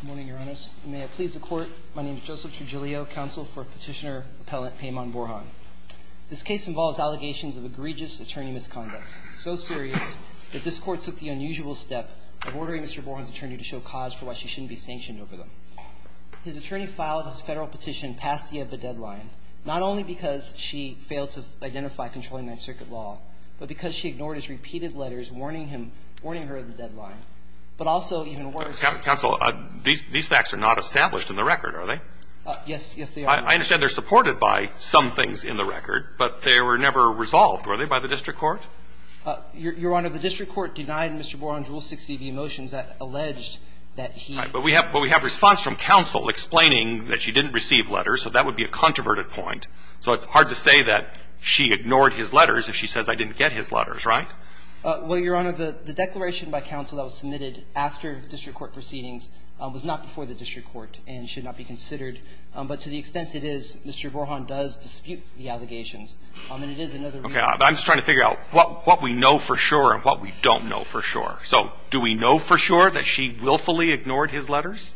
Good morning, Your Honors. May it please the Court, my name is Joseph Trujillo, counsel for Petitioner Appellant Payman Borhan. This case involves allegations of egregious attorney misconduct, so serious that this Court took the unusual step of ordering Mr. Borhan's attorney to show cause for why she shouldn't be sanctioned over them. His attorney filed his federal petition past the end of the deadline, not only because she failed to identify controlling that circuit law, but because she ignored his repeated letters warning him, warning her of the deadline, but also even worse. Counsel, these facts are not established in the record, are they? Yes, yes, they are. I understand they're supported by some things in the record, but they were never resolved, were they, by the district court? Your Honor, the district court denied Mr. Borhan's Rule 60, the emotions that alleged that he But we have response from counsel explaining that she didn't receive letters, so that would be a controverted point. So it's hard to say that she ignored his letters if she says I didn't get his letters, right? Well, Your Honor, the declaration by counsel that was submitted after district court proceedings was not before the district court and should not be considered, but to the extent it is, Mr. Borhan does dispute the allegations, and it is another reason I'm just trying to figure out what we know for sure and what we don't know for sure. So do we know for sure that she willfully ignored his letters?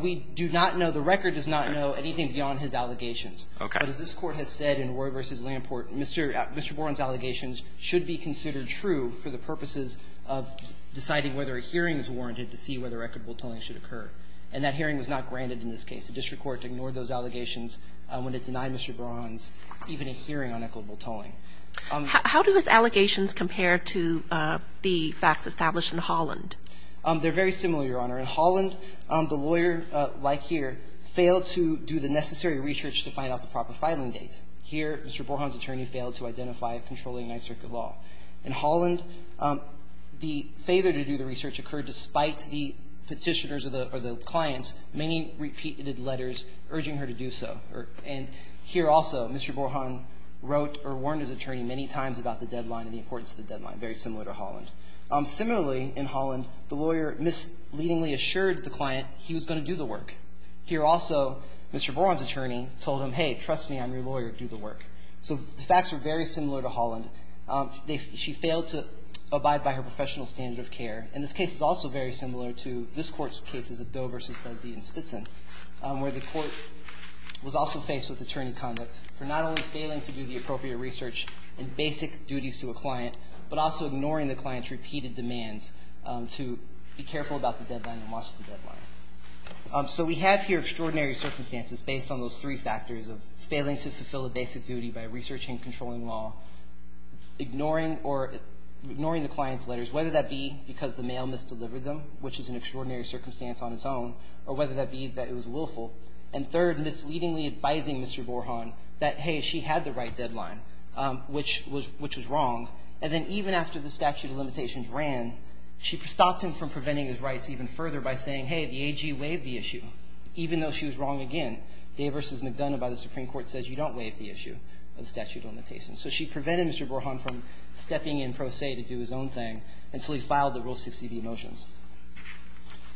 We do not know. The record does not know anything beyond his allegations. But as this Court has said in Roy v. Lamport, Mr. Borhan's allegations should be considered true for the purposes of deciding whether a hearing is warranted to see whether equitable tolling should occur. And that hearing was not granted in this case. The district court ignored those allegations when it denied Mr. Borhan's even a hearing on equitable tolling. How do his allegations compare to the facts established in Holland? They're very similar, Your Honor. In Holland, the lawyer, like here, failed to do the necessary research to find out the proper filing date. Here, Mr. Borhan's attorney failed to identify a controlling nice circuit law. In Holland, the failure to do the research occurred despite the Petitioners or the clients' many repeated letters urging her to do so. And here also, Mr. Borhan wrote or warned his attorney many times about the deadline and the importance of the deadline, very similar to Holland. Similarly, in Holland, the lawyer misleadingly assured the client he was going to do the work. Here also, Mr. Borhan's attorney told him, hey, trust me, I'm your lawyer, do the work. So the facts are very similar to Holland. She failed to abide by her professional standard of care. And this case is also very similar to this Court's cases of Doe v. Bedley and Spitson, where the Court was also faced with attorney conduct for not only failing to do the to be careful about the deadline and watch the deadline. So we have here extraordinary circumstances based on those three factors of failing to fulfill a basic duty by researching controlling law, ignoring or ignoring the client's letters, whether that be because the mail misdelivered them, which is an extraordinary circumstance on its own, or whether that be that it was willful. And third, misleadingly advising Mr. Borhan that, hey, she had the right deadline, which was wrong. And then even after the statute of limitations ran, she stopped him from preventing his rights even further by saying, hey, the AG waived the issue, even though she was wrong Day v. McDonough by the Supreme Court says you don't waive the issue of the statute of limitations. So she prevented Mr. Borhan from stepping in pro se to do his own thing until he filed the Rule 60b motions.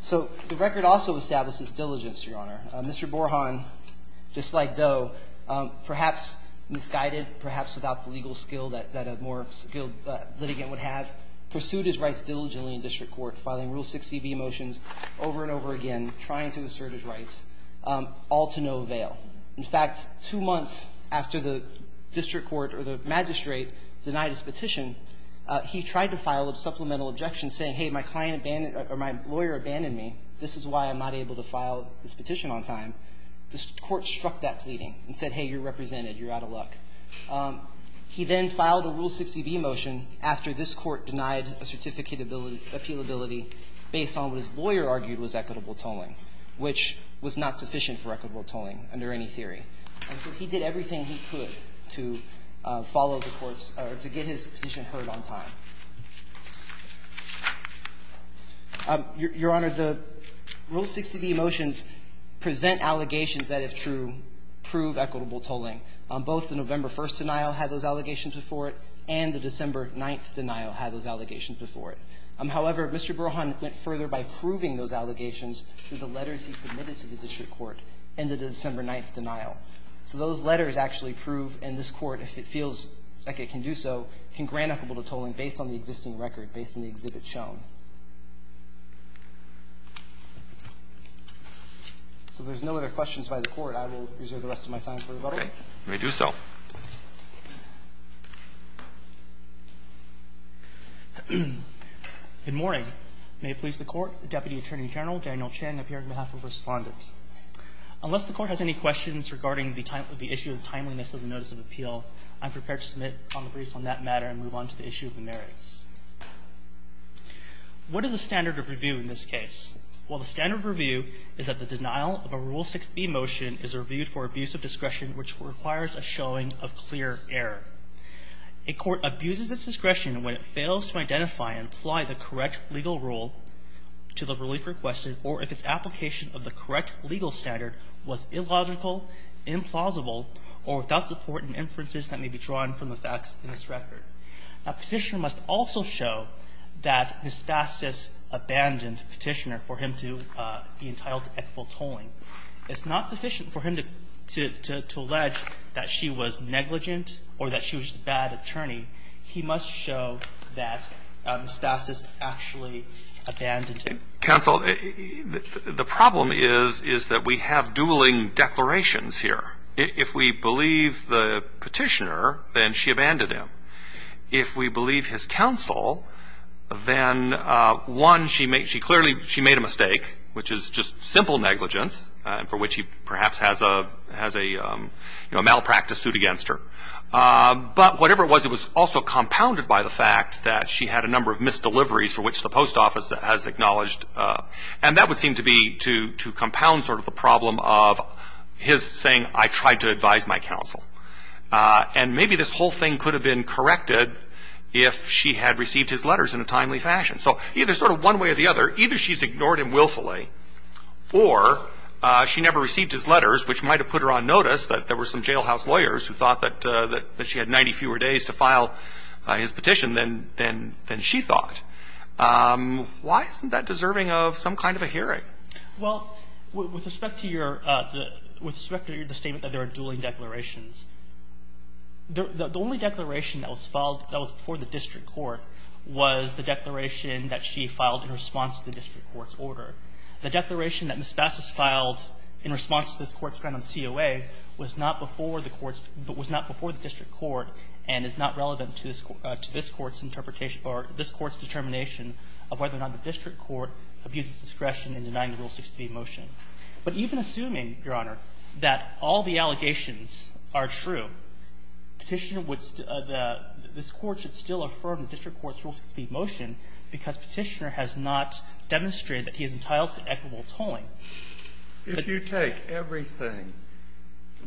So the record also establishes diligence, Your Honor. Mr. Borhan, just like Doe, perhaps misguided, perhaps without the legal skill that a more skilled litigant would have, pursued his rights diligently in district court, filing Rule 60b motions over and over again, trying to assert his rights, all to no avail. In fact, two months after the district court or the magistrate denied his petition, he tried to file a supplemental objection saying, hey, my client abandoned or my lawyer abandoned me. This is why I'm not able to file this petition on time. The court struck that pleading and said, hey, you're represented. You're out of luck. He then filed a Rule 60b motion after this Court denied a certificate of appealability based on what his lawyer argued was equitable tolling, which was not sufficient for equitable tolling under any theory. And so he did everything he could to follow the courts or to get his petition heard on time. Your Honor, the Rule 60b motions present allegations that, if true, prove equitable tolling. Both the November 1st denial had those allegations before it, and the December 9th denial had those allegations before it. However, Mr. Burhan went further by proving those allegations through the letters he submitted to the district court and the December 9th denial. So those letters actually prove, and this Court, if it feels like it can do so, can grant equitable tolling based on the existing record, based on the exhibit shown. So if there's no other questions by the Court, I will reserve the rest of my time for the letter. Roberts. May I do so? Good morning. May it please the Court. Deputy Attorney General Daniel Chang appearing on behalf of Respondent. Unless the Court has any questions regarding the issue of the timeliness of the notice of appeal, I'm prepared to submit on the briefs on that matter and move on to the issue of the merits. What is the standard of review in this case? Well, the standard of review is that the denial of a Rule 60b motion is reviewed for abuse of discretion, which requires a showing of clear error. A court abuses its discretion when it fails to identify and apply the correct legal rule to the relief requested or if its application of the correct legal standard was illogical, implausible, or without support in inferences that may be drawn from the facts in its record. Now, Petitioner must also show that his fastest abandoned Petitioner for him to be entitled to equitable tolling. It's not sufficient for him to allege that she was negligent or that she was a bad attorney. He must show that his fastest actually abandoned him. Counsel, the problem is, is that we have dueling declarations here. If we believe the Petitioner, then she abandoned him. If we believe his counsel, then, one, she made – she clearly – she made a mistake, which is just simple negligence for which he perhaps has a – has a, you know, malpractice suit against her. But whatever it was, it was also compounded by the fact that she had a number of misdeliveries for which the post office has acknowledged. And that would seem to be to compound sort of the problem of his saying, I tried to advise my counsel. And maybe this whole thing could have been corrected if she had received his letters in a timely fashion. So either sort of one way or the other, either she's ignored him willfully or she never received his letters, which might have put her on notice that there were some jailhouse lawyers who thought that she had 90 fewer days to file his petition than she thought. Why isn't that deserving of some kind of a hearing? Well, with respect to your – with respect to the statement that there are dueling declarations, the only declaration that was filed that was before the district court was the declaration that she filed in response to the district court's order. The declaration that Ms. Bassus filed in response to this Court's grant on the COA was not before the court's – was not before the district court and is not relevant to this – to this Court's interpretation or this Court's determination of whether or not the district court abuses discretion in denying the Rule 63 motion. But even assuming, Your Honor, that all the allegations are true, Petitioner would – this Court should still affirm the district court's Rule 63 motion because Petitioner has not demonstrated that he is entitled to equitable tolling. If you take everything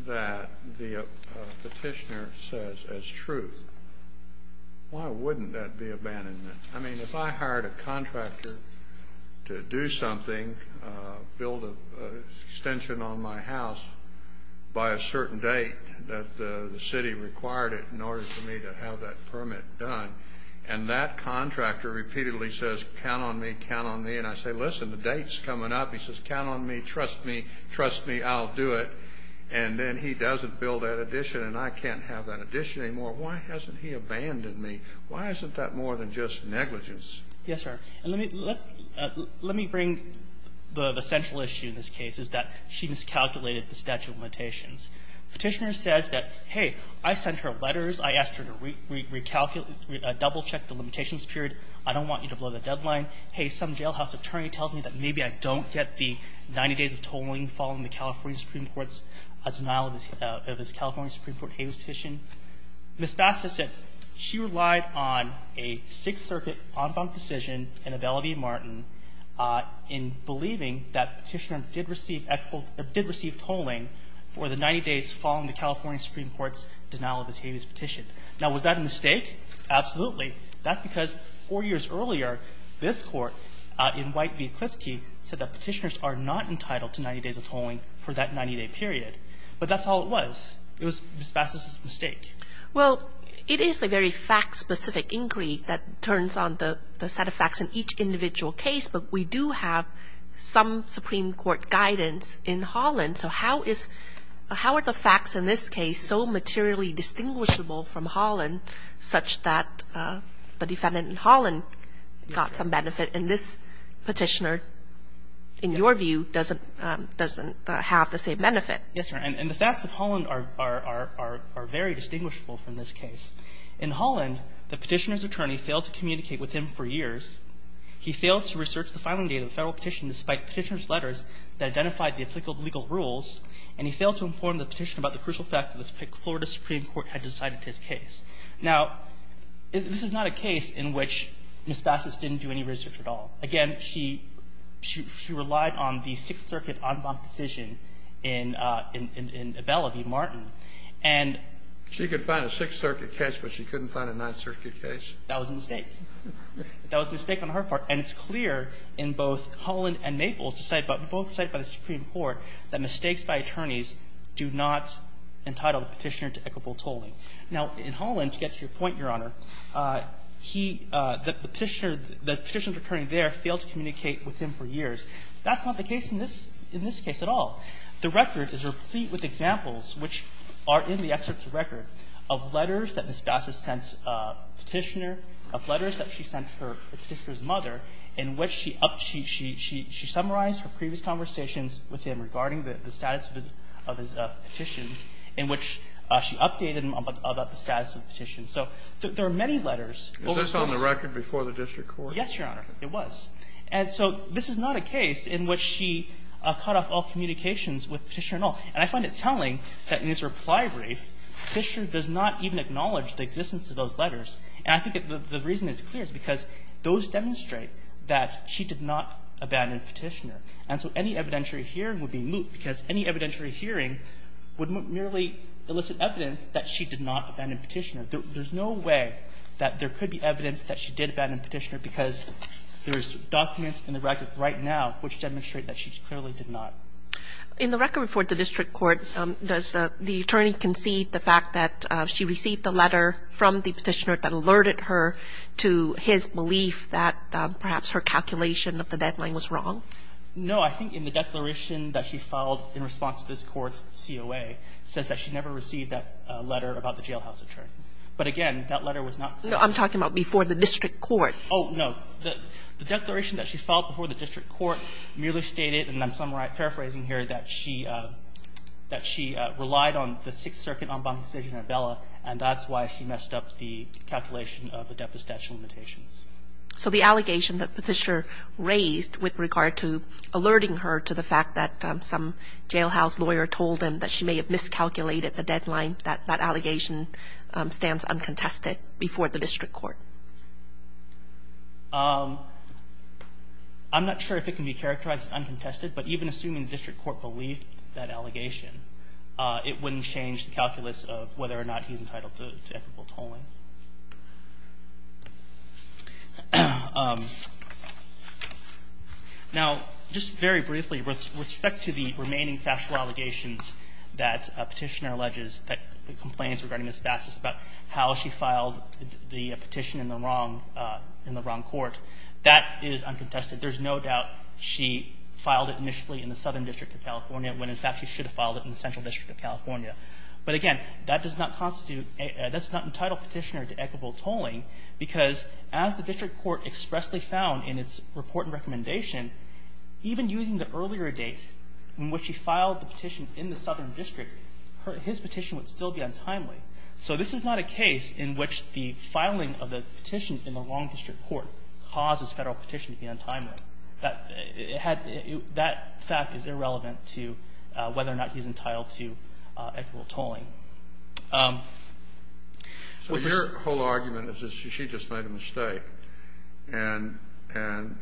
that the Petitioner says as truth, why wouldn't that be abandonment? I mean, if I hired a contractor to do something, build an extension on my house by a certain date that the city required it in order for me to have that permit done, and that contractor repeatedly says, count on me, count on me, and I say, listen, the date's coming up. He says, count on me, trust me, trust me, I'll do it. And then he doesn't build that addition and I can't have that addition anymore. Why hasn't he abandoned me? Why isn't that more than just negligence? Yes, sir. And let me – let's – let me bring the central issue in this case is that she miscalculated the statute of limitations. Petitioner says that, hey, I sent her letters. I asked her to recalculate – double-check the limitations period. I don't want you to blow the deadline. Hey, some jailhouse attorney tells me that maybe I don't get the 90 days of tolling following the California Supreme Court's – denial of his California Supreme Court Habeas Petition. Ms. Bassett said she relied on a Sixth Circuit en banc decision and a Velody Martin in believing that Petitioner did receive – or did receive tolling for the 90 days following the California Supreme Court's denial of his Habeas Petition. Now, was that a mistake? Absolutely. That's because four years earlier, this Court, in White v. Klitsky, said that Petitioners are not entitled to 90 days of tolling for that 90-day period. But that's all it was. It was Ms. Bassett's mistake. Well, it is a very fact-specific inquiry that turns on the set of facts in each individual case, but we do have some Supreme Court guidance in Holland. So how is – how are the facts in this case so materially distinguishable from Holland such that the defendant in Holland got some benefit and this Petitioner, in your view, doesn't have the same benefit? Yes, Your Honor. And the facts of Holland are very distinguishable from this case. In Holland, the Petitioner's attorney failed to communicate with him for years. He failed to research the filing date of the Federal Petition despite Petitioner's letters that identified the applicable legal rules, and he failed to inform the Petitioner about the crucial fact that the Florida Supreme Court had decided his case. Now, this is not a case in which Ms. Bassett didn't do any research at all. Again, she relied on the Sixth Circuit en banc decision in Abella v. Martin. And – She could find a Sixth Circuit case, but she couldn't find a Ninth Circuit case? That was a mistake. That was a mistake on her part. And it's clear in both Holland and Naples, both cited by the Supreme Court, that mistakes by attorneys do not entitle the Petitioner to equitable tolling. Now, in Holland, to get to your point, Your Honor, he – the Petitioner – the Petitioner's attorney there failed to communicate with him for years. That's not the case in this – in this case at all. The record is replete with examples, which are in the excerpt's record, of letters that Ms. Bassett sent Petitioner, of letters that she sent her – Petitioner's mother, in which she – she summarized her previous conversations with him regarding the status of his petitions, in which she updated him about the status of the petition. So there are many letters. Is this on the record before the district court? Yes, Your Honor, it was. And so this is not a case in which she cut off all communications with Petitioner at all. And I find it telling that in this reply brief, Petitioner does not even acknowledge the existence of those letters. And I think the reason is clear. It's because those demonstrate that she did not abandon Petitioner. And so any evidentiary hearing would be moot, because any evidentiary hearing would merely elicit evidence that she did not abandon Petitioner. There's no way that there could be evidence that she did abandon Petitioner because there's documents in the record right now which demonstrate that she clearly did not. In the record before the district court, does the attorney concede the fact that she received a letter from the Petitioner that alerted her to his belief that perhaps her calculation of the deadline was wrong? No. I think in the declaration that she filed in response to this Court's COA, it says that she never received that letter about the jailhouse attorney. But again, that letter was not filed. I'm talking about before the district court. Oh, no. The declaration that she filed before the district court merely stated, and I'm paraphrasing here, that she relied on the Sixth Circuit en banc decision at Bella, and that's why she messed up the calculation of the debt to statute limitations. So the allegation that Petitioner raised with regard to alerting her to the fact that some jailhouse lawyer told him that she may have miscalculated the deadline, that allegation stands uncontested before the district court? I'm not sure if it can be characterized as uncontested, but even assuming the district court believed that allegation, it wouldn't change the calculus of whether or not he's entitled to equitable tolling. Now, just very briefly, with respect to the remaining factual allegations that Petitioner alleges, the complaints regarding Ms. Bassus about how she filed the petition in the wrong court, that is uncontested. There's no doubt she filed it initially in the Southern District of California when, in fact, she should have filed it in the Central District of California. But again, that does not constitute an entitled Petitioner to equitable tolling because as the district court expressly found in its report and recommendation, even using the earlier date in which she filed the petition in the Southern District, her – his petition would still be untimely. So this is not a case in which the filing of the petition in the wrong district court causes Federal petition to be untimely. That had – that fact is irrelevant to whether or not he's entitled to equitable tolling. So this – So your whole argument is that she just made a mistake, and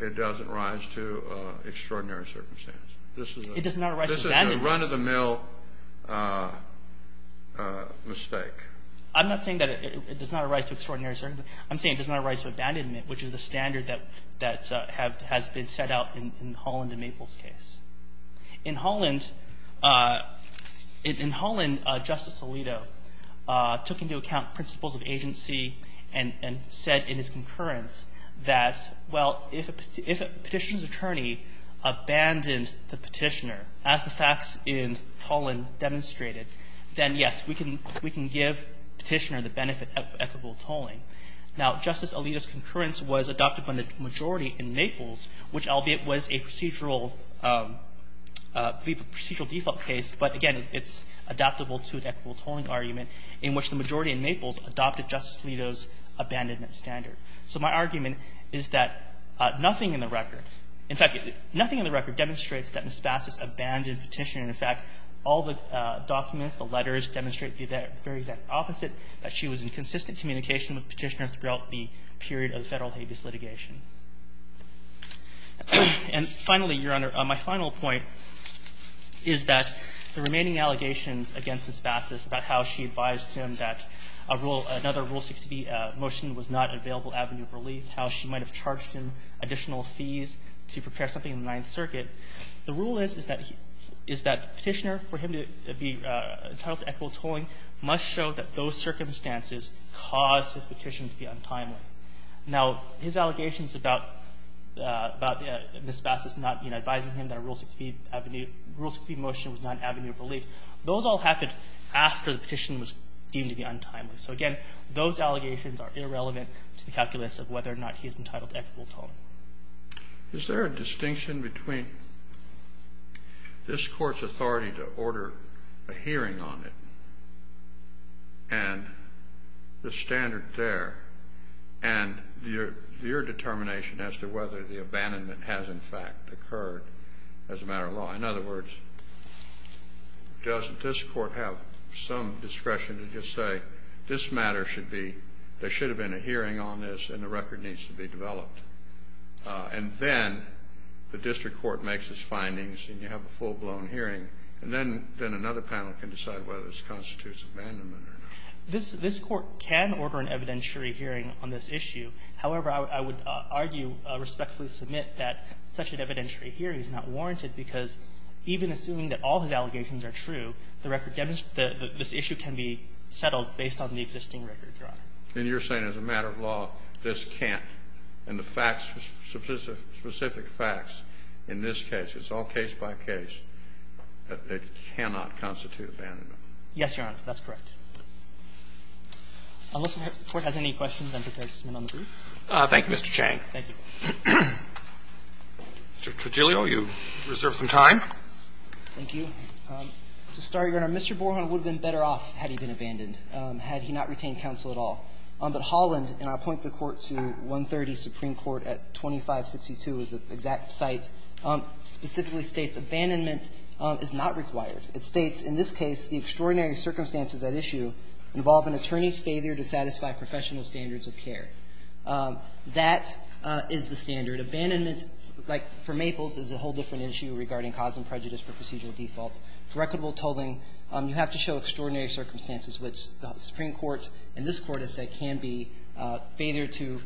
it doesn't rise to extraordinary circumstance. This is a – It does not rise to that extent. This is a run-of-the-mill mistake. I'm not saying that it does not rise to extraordinary circumstance. I'm saying it does not rise to abandonment, which is the standard that has been set out in Holland and Maple's case. In Holland, Justice Alito took into account principles of agency and said in his concurrence that, well, if a petitioner's attorney abandoned the petitioner, as the facts in Holland demonstrated, then, yes, we can give Petitioner the benefit of equitable tolling. Now, Justice Alito's concurrence was adopted by the majority in Maple's, which albeit was a procedural default case, but again, it's adaptable to an equitable tolling argument in which the majority in Maple's adopted Justice Alito's abandonment standard. So my argument is that nothing in the record – in fact, nothing in the record demonstrates that Ms. Bassus abandoned Petitioner. In fact, all the documents, the letters, demonstrate the very exact opposite, that she was in consistent communication with Petitioner throughout the period of Federal habeas litigation. And finally, Your Honor, my final point is that the remaining allegations against Ms. Bassus about how she advised him that a rule – another Rule 60 motion was not an available avenue of relief, how she might have charged him additional fees to prepare something in the Ninth Circuit. The rule is, is that Petitioner, for him to be entitled to equitable tolling, must show that those circumstances caused his petition to be untimely. Now, his allegations about Ms. Bassus not advising him that a Rule 60 avenue – Rule 60 motion was not an avenue of relief, those all happened after the petition was deemed to be untimely. So again, those allegations are irrelevant to the calculus of whether or not he is entitled to equitable tolling. Kennedy. Is there a distinction between this Court's authority to order a hearing on it and the standard there and your determination as to whether the abandonment has, in fact, occurred as a matter of law? In other words, doesn't this Court have some discretion to just say, this matter should be – there should have been a hearing on this and the record needs to be developed? And then the district court makes its findings and you have a full-blown hearing, and then another panel can decide whether this constitutes abandonment or not. This Court can order an evidentiary hearing on this issue. However, I would argue, respectfully submit, that such an evidentiary hearing is not warranted because even assuming that all his allegations are true, the record – this issue can be settled based on the existing record, Your Honor. And you're saying as a matter of law, this can't, and the facts, specific facts in this case, it's all case by case, it cannot constitute abandonment. Yes, Your Honor. That's correct. Unless the Court has any questions, I'm prepared to move on to the brief. Thank you, Mr. Chang. Thank you. Mr. Tregilio, you reserve some time. Thank you. To start, Your Honor, Mr. Borhon would have been better off had he been abandoned, had he not retained counsel at all. But Holland, and I'll point the Court to 130 Supreme Court at 2562 is the exact site, specifically states abandonment is not required. It states, in this case, the extraordinary circumstances at issue involve an attorney's failure to satisfy professional standards of care. That is the standard. Abandonment, like for Maples, is a whole different issue regarding cause and prejudice for procedural default. For equitable tolling, you have to show extraordinary circumstances which the Supreme Court and this Court has said can be failure to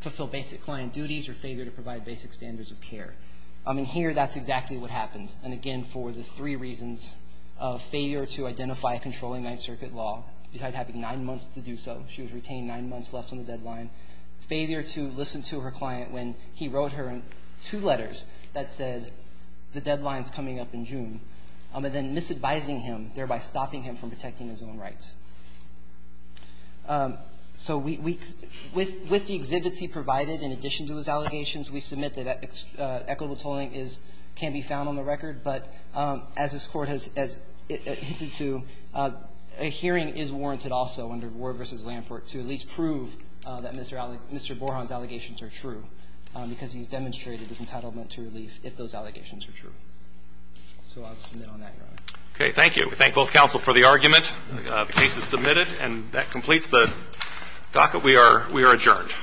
fulfill basic client duties or failure to provide basic standards of care. And here, that's exactly what happened. And again, for the three reasons of failure to identify a controlling Ninth Circuit law, having nine months to do so, she was retained nine months left on the deadline, failure to listen to her client when he wrote her two letters that said the deadline is coming up in June, and then misadvising him, thereby stopping him from protecting his own rights. So we – with the exhibits he provided, in addition to his allegations, we submit that equitable tolling is – can be found on the record. But as this Court has hinted to, a hearing is warranted also under Ward v. Lamport to at least prove that Mr. Borhon's allegations are true, because he's demonstrated his entitlement to relief if those allegations are true. So I'll submit on that, Your Honor. Okay. Thank you. We thank both counsel for the argument. The case is submitted, and that completes the docket. We are adjourned.